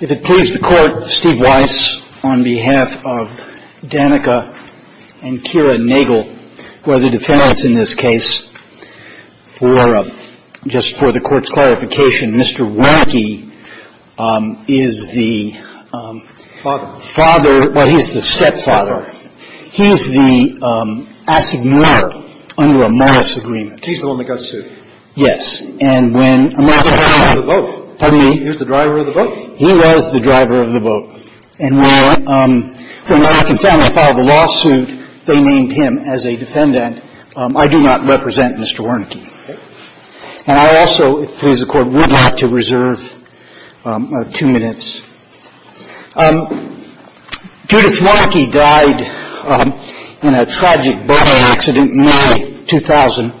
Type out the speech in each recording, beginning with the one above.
If it please the Court, Steve Weiss, on behalf of Danica and Kira Nagel, who are the defendants in this case, for just for the Court's clarification, Mr. Wernicke is the father, well, he's the stepfather. He's the assignurer under a Morris agreement. He's the one that got sued. Yes. And when a matter of fact he was the driver of the boat. Pardon me? He was the driver of the boat. And when the Wernicke family filed the lawsuit, they named him as a defendant. I do not represent Mr. Wernicke. Okay. And I also, if it please the Court, would like to reserve two minutes. Judith Wernicke died in a tragic boat accident in May 2000.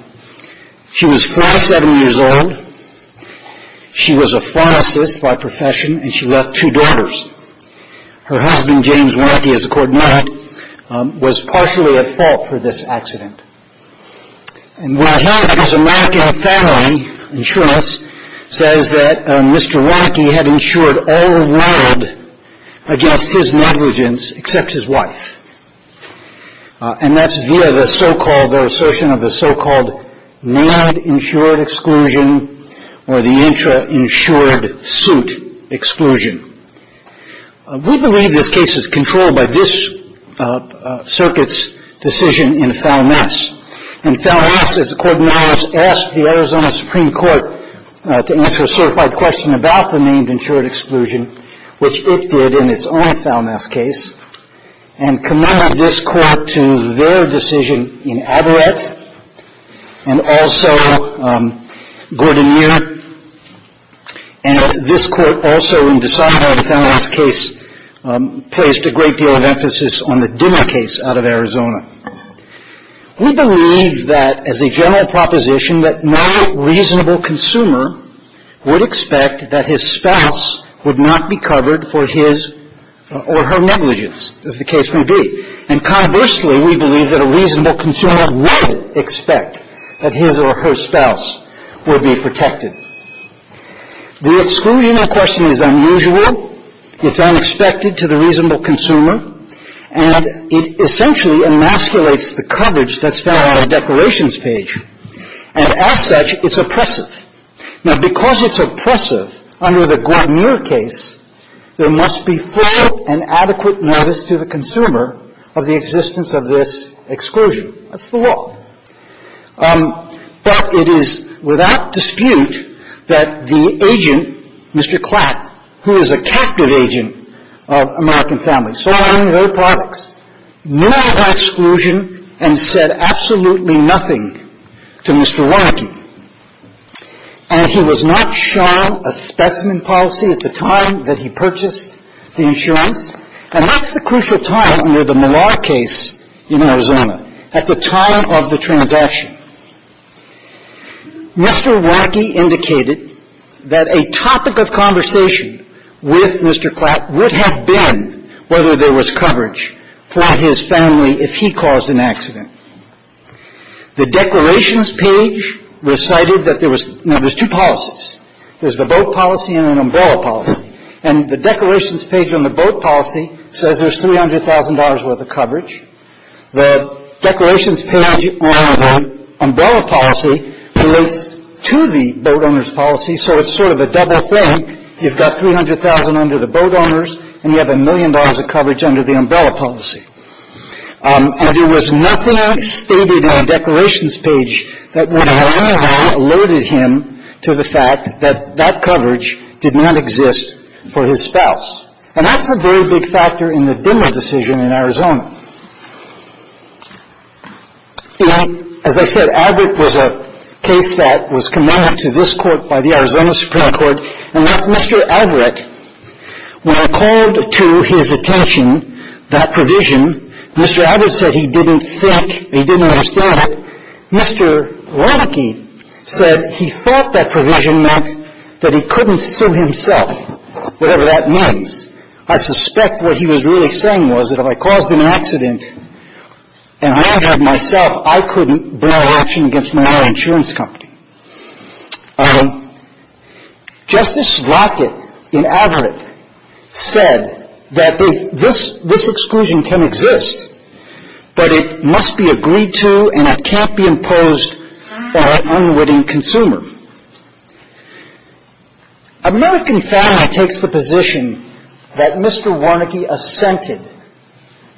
She was 47 years old. She was a pharmacist by profession, and she left two daughters. Her husband, James Wernicke, as the Court noted, was partially at fault for this accident. And what I have is a mark in the family insurance that says that Mr. Wernicke had insured all the world against his negligence except his wife. And that's via the so-called, the assertion or the intra-insured suit exclusion. We believe this case is controlled by this circuit's decision in FALMAS. And FALMAS, as the Court of Morris asked the Arizona Supreme Court to answer a certified question about the named insured exclusion, which it did in its own FALMAS case, and committed this Court to their decision in ABARET and also Gordon Muir. And this Court also, in DeSantis' FALMAS case, placed a great deal of emphasis on the DIMMA case out of Arizona. We believe that, as a general proposition, that no reasonable consumer would expect that his spouse would not be covered for his or her negligence, as the case may be. And conversely, we believe that a reasonable consumer would expect that his or her spouse would be protected. The exclusion question is unusual. It's unexpected to the reasonable consumer. And it essentially emasculates the coverage that's found on the declarations page. And as such, it's oppressive. Now, because it's oppressive under the Gordon Muir case, there must be thorough and adequate notice to the consumer of the existence of this exclusion. That's the law. But it is without dispute that the agent, Mr. Klatt, who is a captive agent of American Families, saw on their products no exclusion and said absolutely nothing to Mr. Warnke. And he was not shown a specimen policy at the time that he purchased the insurance. And that's the crucial time under the Millar case in Arizona, at the time of the transaction. Mr. Warnke indicated that a topic of conversation with Mr. Klatt would have been whether there was coverage for his family if he caused an accident. The declarations page recited that there was – now, there's two policies. There's the boat policy and an umbrella policy. And the declarations page on the boat policy says there's $300,000 worth of coverage. The declarations page on the umbrella policy relates to the boat owner's policy, so it's sort of a double thing. You've got $300,000 under the boat owner's, and you have a million dollars of coverage under the umbrella policy. And there was nothing stated in the declarations page that would have, anyhow, alluded him to the fact that that coverage did not exist for his spouse. And that's a very big factor in the Dimmer decision in Arizona. As I said, Alvaret was a case that was committed to this Court by the Arizona Supreme Court. And that Mr. Alvaret, when I called to his attention that provision, Mr. Alvaret said he didn't think – he didn't understand it. Mr. Warnke said he thought that provision meant that he couldn't sue himself, whatever that means. I suspect what he was really saying was that if I caused an accident and I injured myself, I couldn't bring a lawsuit against my own insurance company. Justice Slotnick in Alvaret said that this exclusion can exist, but it must be agreed to and it can't be imposed by an unwitting consumer. American Family takes the position that Mr. Warnke assented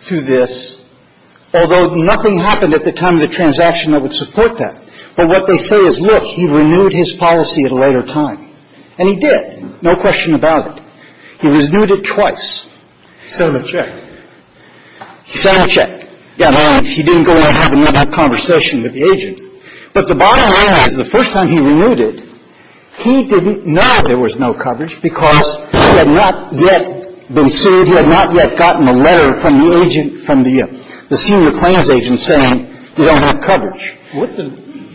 to this, although nothing happened at the time of the transaction that would support that. But what they say is, look, he renewed his policy at a later time. And he did, no question about it. He renewed it twice. He sent a check. He sent a check. Got a warrant. He didn't go in and have another conversation with the agent. But the bottom line is the first time he renewed it, he didn't know that there was no coverage, because he had not yet been sued. He had not yet gotten a letter from the agent, from the senior claims agent, saying they don't have coverage. Scalia.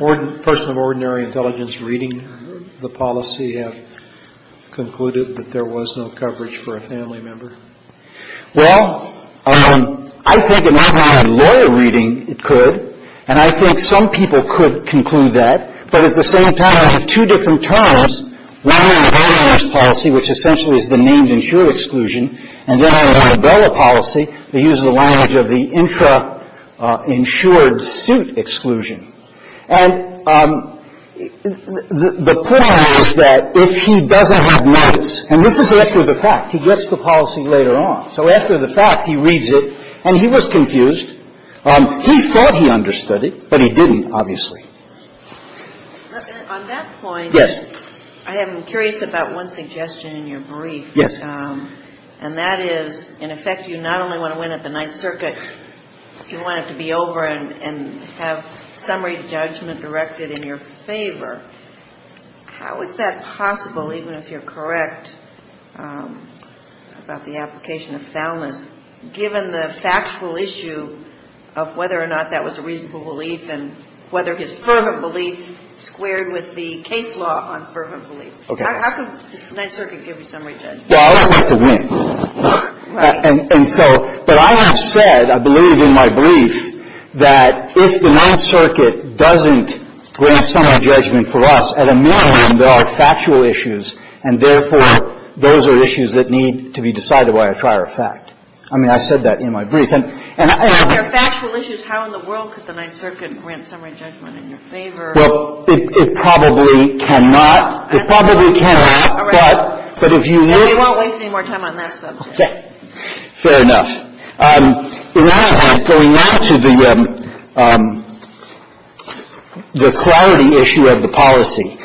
Wouldn't a person of ordinary intelligence reading the policy have concluded that there was no coverage for a family member? Warnke. Well, I think if I had lawyer reading, it could. And I think some people could conclude that. But at the same time, I have two different terms. One is a bad honest policy, which essentially is the named insured exclusion. And then I have a rebellious policy that uses the language of the intra-insured suit exclusion. And the point is that if he doesn't have notice, and this is after the fact, he gets the policy later on. So after the fact, he reads it, and he was confused. He thought he understood it, but he didn't, obviously. On that point, I am curious about one suggestion in your brief. And that is, in effect, you not only want to win at the Ninth Circuit, you want it to be over and have summary judgment directed in your favor. How is that possible, even if you're correct about the application of Thelmas, given the factual issue of whether or not that was a reasonable rule of law? Well, I'd like to win. And so, but I have said, I believe, in my brief, that if the Ninth Circuit doesn't grant summary judgment for us, at a minimum, there are factual issues, and therefore, those are issues that need to be decided by a prior fact. I mean, I said that in my brief. And there are factual issues. How in the world could the Ninth Circuit grant summary judgment in your favor? Well, it probably cannot. It probably cannot, but if you need to go out to the clarity issue of the policy.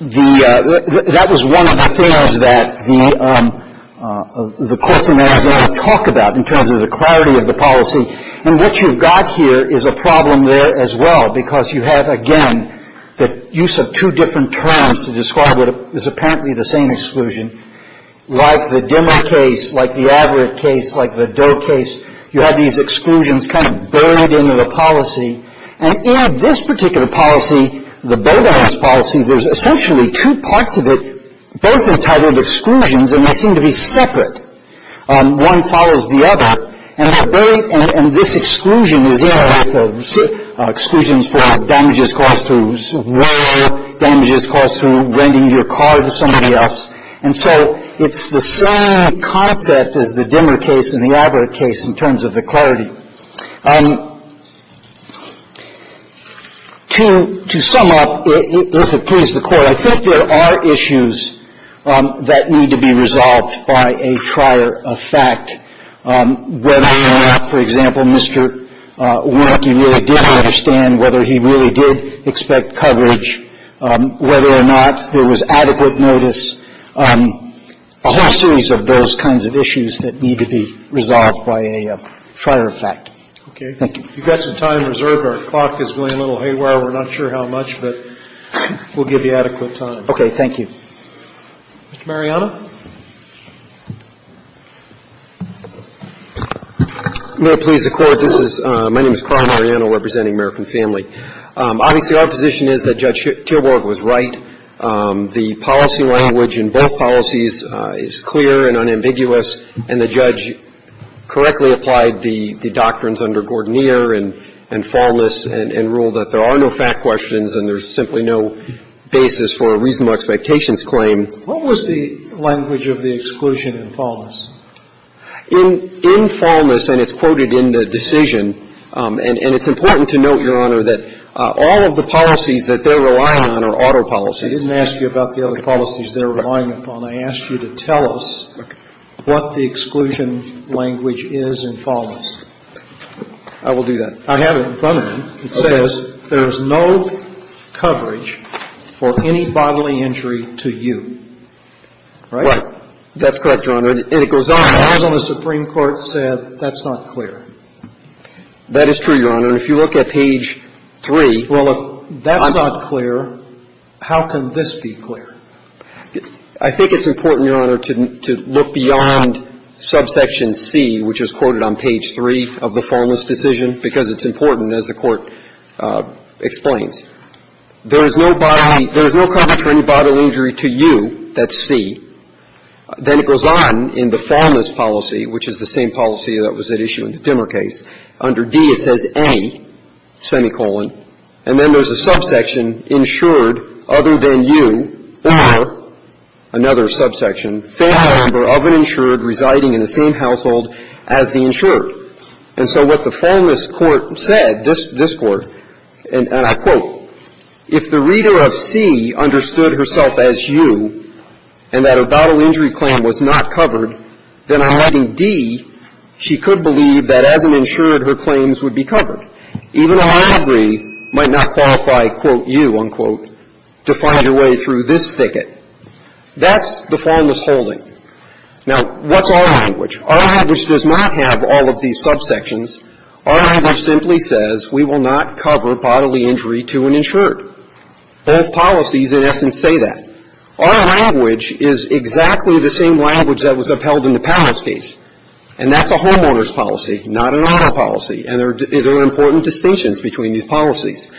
That was one of the things that the courts in Arizona talk about in terms of the clarity of the policy. And what you've got here is a problem there as well, because you have, again, the use of two different terms to describe what is apparently the same exclusion. Like the Dimmer case, like the Averitt case, like the Doe case, you have these exclusions kind of buried into the policy. And in this particular policy, the Bowdoin's policy, there's essentially two parts of it, both entitled exclusions, and they seem to be separate. One follows the other. And that buried — and this exclusion is, you know, like the exclusions for damages caused through war, damages caused through renting your car to somebody else. And so it's the same concept as the Dimmer case and the Averitt case in terms of the clarity. To sum up, if it please the Court, I think there are issues that need to be resolved by a trier of fact, whether or not, for example, Mr. Warnke really did understand whether he really did expect coverage, whether or not there was adequate notice, a whole series of those kinds of issues that need to be resolved by a trier of fact. Thank you. Okay. If you've got some time reserved, our clock is going a little haywire. We're not sure how much, but we'll give you adequate time. Okay. Thank you. Mr. Mariano? If it please the Court, this is — my name is Carl Mariano representing American Family. Obviously, our position is that Judge Teelborg was right. The policy language in both policies is clear and unambiguous, and the judge correctly applied the doctrines under Gordnier and Faulness and ruled that there are no fact questions and there's simply no basis for a reasonable expectations claim. What was the language of the exclusion in Faulness? In Faulness, and it's quoted in the decision, and it's important to note, Your Honor, that all of the policies that they're relying on are auto policies. I didn't ask you about the other policies they're relying upon. I asked you to tell us what the exclusion language is in Faulness. I will do that. I have it in front of me. Okay. It says there is no coverage for any bodily injury to you. Right? Right. That's correct, Your Honor. And it goes on. The laws on the Supreme Court said that's not clear. That is true, Your Honor. And if you look at page 3 — Well, if that's not clear, how can this be clear? I think it's important, Your Honor, to look beyond subsection C, which is quoted on page 3 of the Faulness decision, because it's important, as the Court explains. There is no body — there is no coverage for any bodily injury to you. That's C. Then it goes on in the Faulness policy, which is the same policy that was at issue in the Dimmer case. Under D, it says any, semicolon. And then there's a subsection, insured other than you, or another subsection, family member of an insured residing in the same household as the insured. And so what the Faulness court said, this court, and I quote, if the reader of C understood herself as you and that her bodily injury claim was not that as an insured, her claims would be covered, even a library might not qualify, quote, you, unquote, to find her way through this thicket. That's the Faulness holding. Now, what's our language? Our language does not have all of these subsections. Our language simply says we will not cover bodily injury to an insured. Both policies, in essence, say that. Our language is exactly the same language that was upheld in the Palance case, and that's a homeowner's policy, not an owner policy. And there are important distinctions between these policies.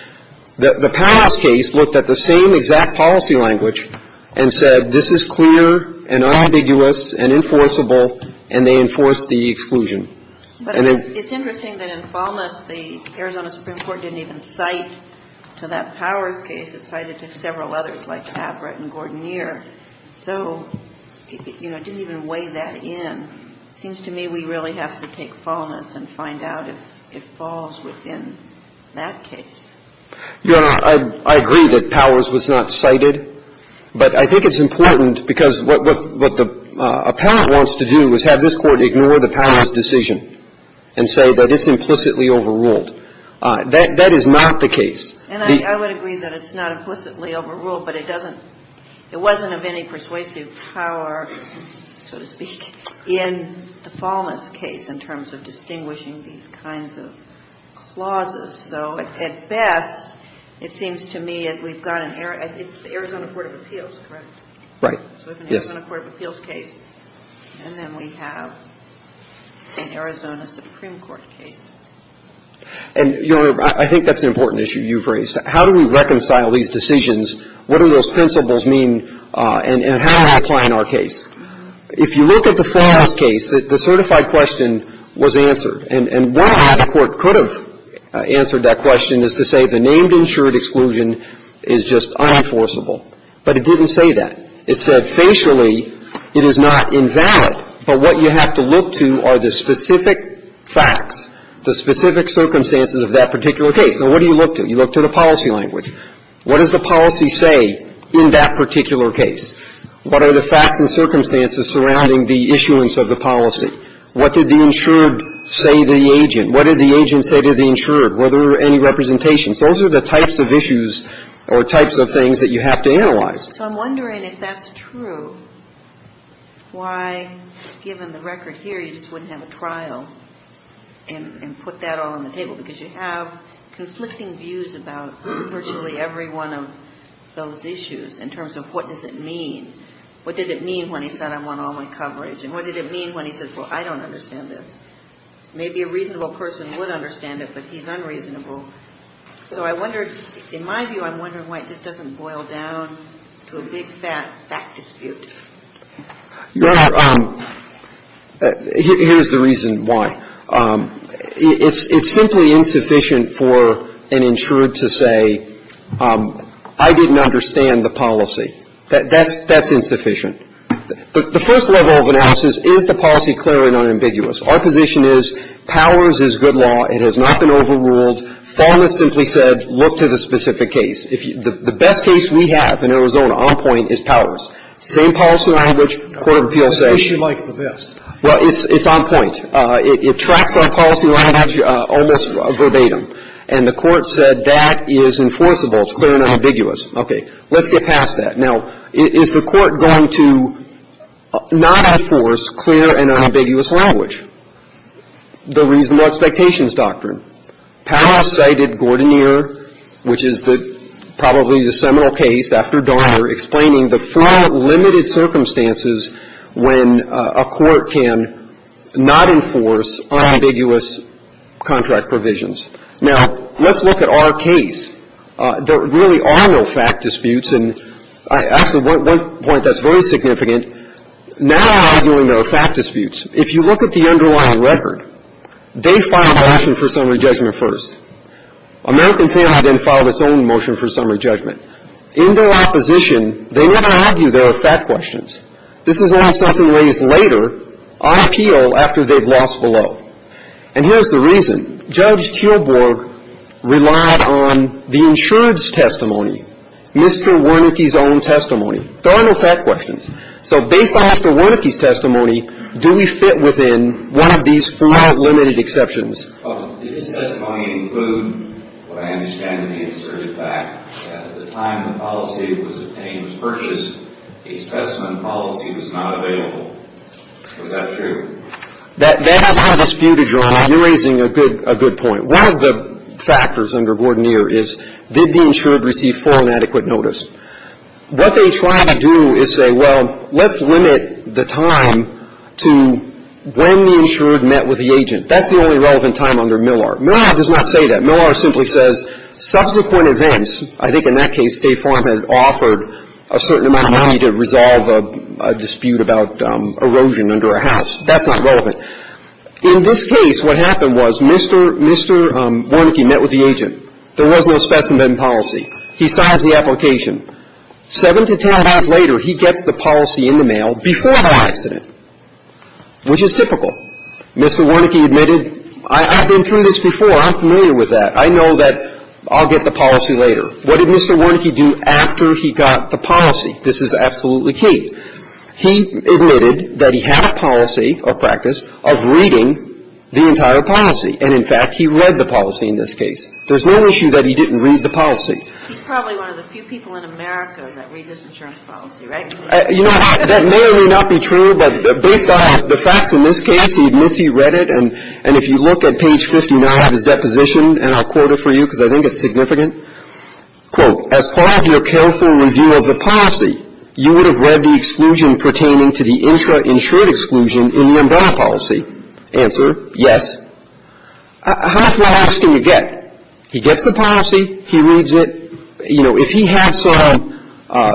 The Palance case looked at the same exact policy language and said, this is clear and unambiguous and enforceable, and they enforced the exclusion. And then... But it's interesting that in Faulness, the Arizona Supreme Court didn't even cite to that Palance case. It cited to several others like Abbrett and Gordon-Year. So, you know, it didn't even weigh that in. It seems to me we really have to take Faulness and find out if it falls within that case. Your Honor, I agree that Powers was not cited, but I think it's important because what the appellant wants to do is have this Court ignore the Palance decision and say that it's implicitly overruled. That is not the case. And I would agree that it's not implicitly overruled, but it doesn't – it wasn't of any persuasive power, so to speak, in the Faulness case in terms of distinguishing these kinds of clauses. So at best, it seems to me that we've got an – it's the Arizona Court of Appeals, correct? Right. Yes. So we have an Arizona Court of Appeals case, and then we have an Arizona Supreme Court case. And, Your Honor, I think that's an important issue you've raised. How do we reconcile these decisions? What do those principles mean, and how do they apply in our case? If you look at the Faulness case, the certified question was answered. And one way the Court could have answered that question is to say the named insured exclusion is just unenforceable. But it didn't say that. It said facially it is not invalid, but what you have to look to are the specific facts, the specific circumstances of that particular case. Now, what do you look to? You look to the policy language. What does the policy say in that particular case? What are the facts and circumstances surrounding the issuance of the policy? What did the insured say to the agent? What did the agent say to the insured? Were there any representations? Those are the types of issues or types of things that you have to analyze. So I'm wondering if that's true, why, given the record here, you just wouldn't have a trial and put that all on the table, because you have conflicting views about virtually every one of those issues in terms of what does it mean. What did it mean when he said, I want all my coverage? And what did it mean when he says, well, I don't understand this? Maybe a reasonable person would understand it, but he's unreasonable. So I wonder, in my view, I'm wondering why it just doesn't boil down to a big fat fact dispute. Your Honor, here's the reason why. It's simply insufficient for an insured to say, I didn't understand the policy. That's insufficient. The first level of analysis, is the policy clear and unambiguous? Our position is, Powers is good law. It has not been overruled. Fulmer simply said, look to the specific case. The best case we have in Arizona, on point, is Powers. Same policy language. Court of appeals say. It's on point. It tracks our policy language almost verbatim. And the court said, that is enforceable. It's clear and unambiguous. Okay. Let's get past that. Now, is the court going to not enforce clear and unambiguous language? The reasonable expectations doctrine. Powers cited Gordoneer, which is probably the seminal case after Donner, explaining the four limited circumstances when a court can not enforce unambiguous contract provisions. Now, let's look at our case. There really are no fact disputes. And actually, one point that's very significant. Now, arguing there are fact disputes. If you look at the underlying record, they filed a motion for summary judgment first. American Family then filed its own motion for summary judgment. In their opposition, they never argue there are fact questions. This is only something raised later, on appeal, after they've lost below. And here's the reason. Judge Tilburg relied on the insured's testimony. Mr. Wernicke's own testimony. There are no fact questions. So, based on Mr. Wernicke's testimony, do we fit within one of these four limited exceptions? Does his testimony include what I understand to be an asserted fact, that at the time the policy was obtained was purchased, a specimen policy was not available? Is that true? That's not a dispute, Your Honor. You're raising a good point. One of the factors under Gordoneer is, did the insured receive full and adequate notice? What they try to do is say, well, let's limit the time to when the insured met with the agent. That's the only relevant time under Millar. Millar does not say that. Millar simply says, subsequent events, I think in that case, State Farm had offered a certain amount of money to resolve a dispute about erosion under a house. That's not relevant. In this case, what happened was Mr. Wernicke met with the agent. There was no specimen policy. He signs the application. Seven to ten hours later, he gets the policy in the mail before the accident, which is typical. Mr. Wernicke admitted, I've been through this before. I'm familiar with that. I know that I'll get the policy later. What did Mr. Wernicke do after he got the policy? This is absolutely key. He admitted that he had a policy or practice of reading the entire policy. And, in fact, he read the policy in this case. There's no issue that he didn't read the policy. He's probably one of the few people in America that read this insurance policy, right? You know, that may or may not be true, but based on the facts in this case, he admits he read it. And if you look at page 59 of his deposition, and I'll quote it for you, because I think it's significant. Quote, as part of your careful review of the policy, you would have read the exclusion pertaining to the intra-insured exclusion in the umbrella policy. Answer, yes. How far off can you get? He gets the policy. He reads it. You know, if he had some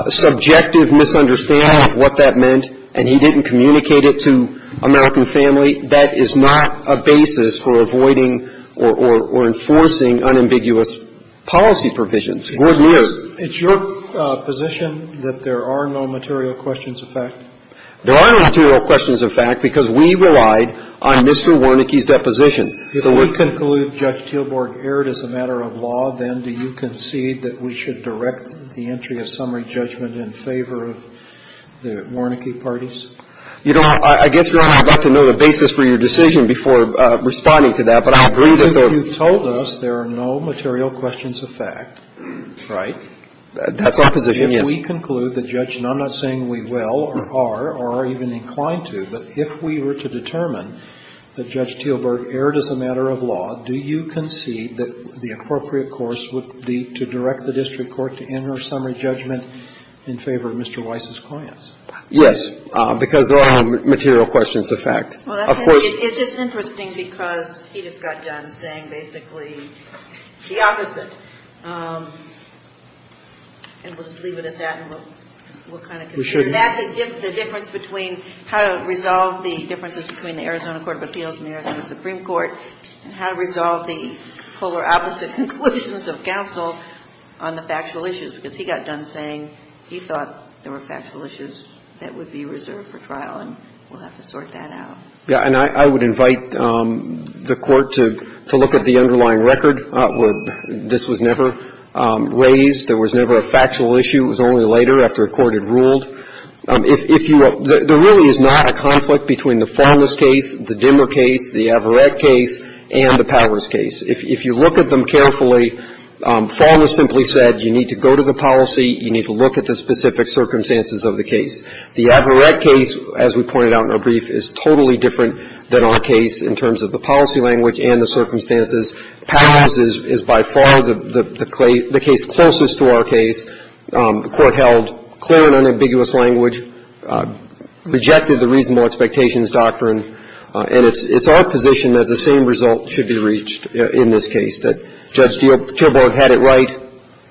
subjective misunderstanding of what that meant and he didn't communicate it to American family, that is not a basis for avoiding or enforcing unambiguous policy provisions. Gordon, you? It's your position that there are no material questions of fact? There are no material questions of fact because we relied on Mr. Wernicke's deposition. If we conclude Judge Teelborg erred as a matter of law, then do you concede that we should direct the entry of summary judgment in favor of the Wernicke parties? You know, I guess, Your Honor, I'd like to know the basis for your decision before responding to that, but I agree that there are no material questions of fact, right? That's our position, yes. If we conclude that Judge, and I'm not saying we will or are or are even inclined to, but if we were to determine that Judge Teelborg erred as a matter of law, do you concede that the appropriate course would be to direct the district court to enter summary judgment in favor of Mr. Weiss's clients? Yes, because there are no material questions of fact. Of course. It's just interesting because he just got done saying basically the opposite. And we'll just leave it at that and we'll kind of conclude. That's the difference between how to resolve the differences between the Arizona Court of Appeals and the Arizona Supreme Court and how to resolve the polar opposite conclusions of counsel on the factual issues, because he got done saying he thought there were factual issues that would be reserved for trial and we'll have to sort that out. Yeah. And I would invite the Court to look at the underlying record. This was never raised. There was never a factual issue. It was only later after a court had ruled. There really is not a conflict between the Faulness case, the Dimmer case, the Averett case, and the Powers case. If you look at them carefully, Faulness simply said you need to go to the policy, you need to look at the specific circumstances of the case. The Averett case, as we pointed out in our brief, is totally different than our case in terms of the policy language and the circumstances. Powers is by far the case closest to our case. The Court held clear and unambiguous language, rejected the reasonable expectations doctrine. And it's our position that the same result should be reached in this case, that Judge Teelbrook had it right.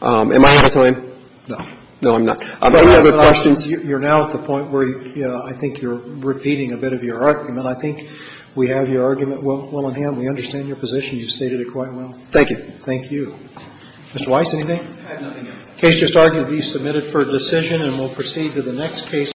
Am I out of time? No. No, I'm not. I've got other questions. You're now at the point where I think you're repeating a bit of your argument. I think we have your argument well in hand. We understand your position. You've stated it quite well. Thank you. Thank you. Mr. Weiss, anything? I have nothing else. The case just argued to be submitted for decision, and we'll proceed to the next case.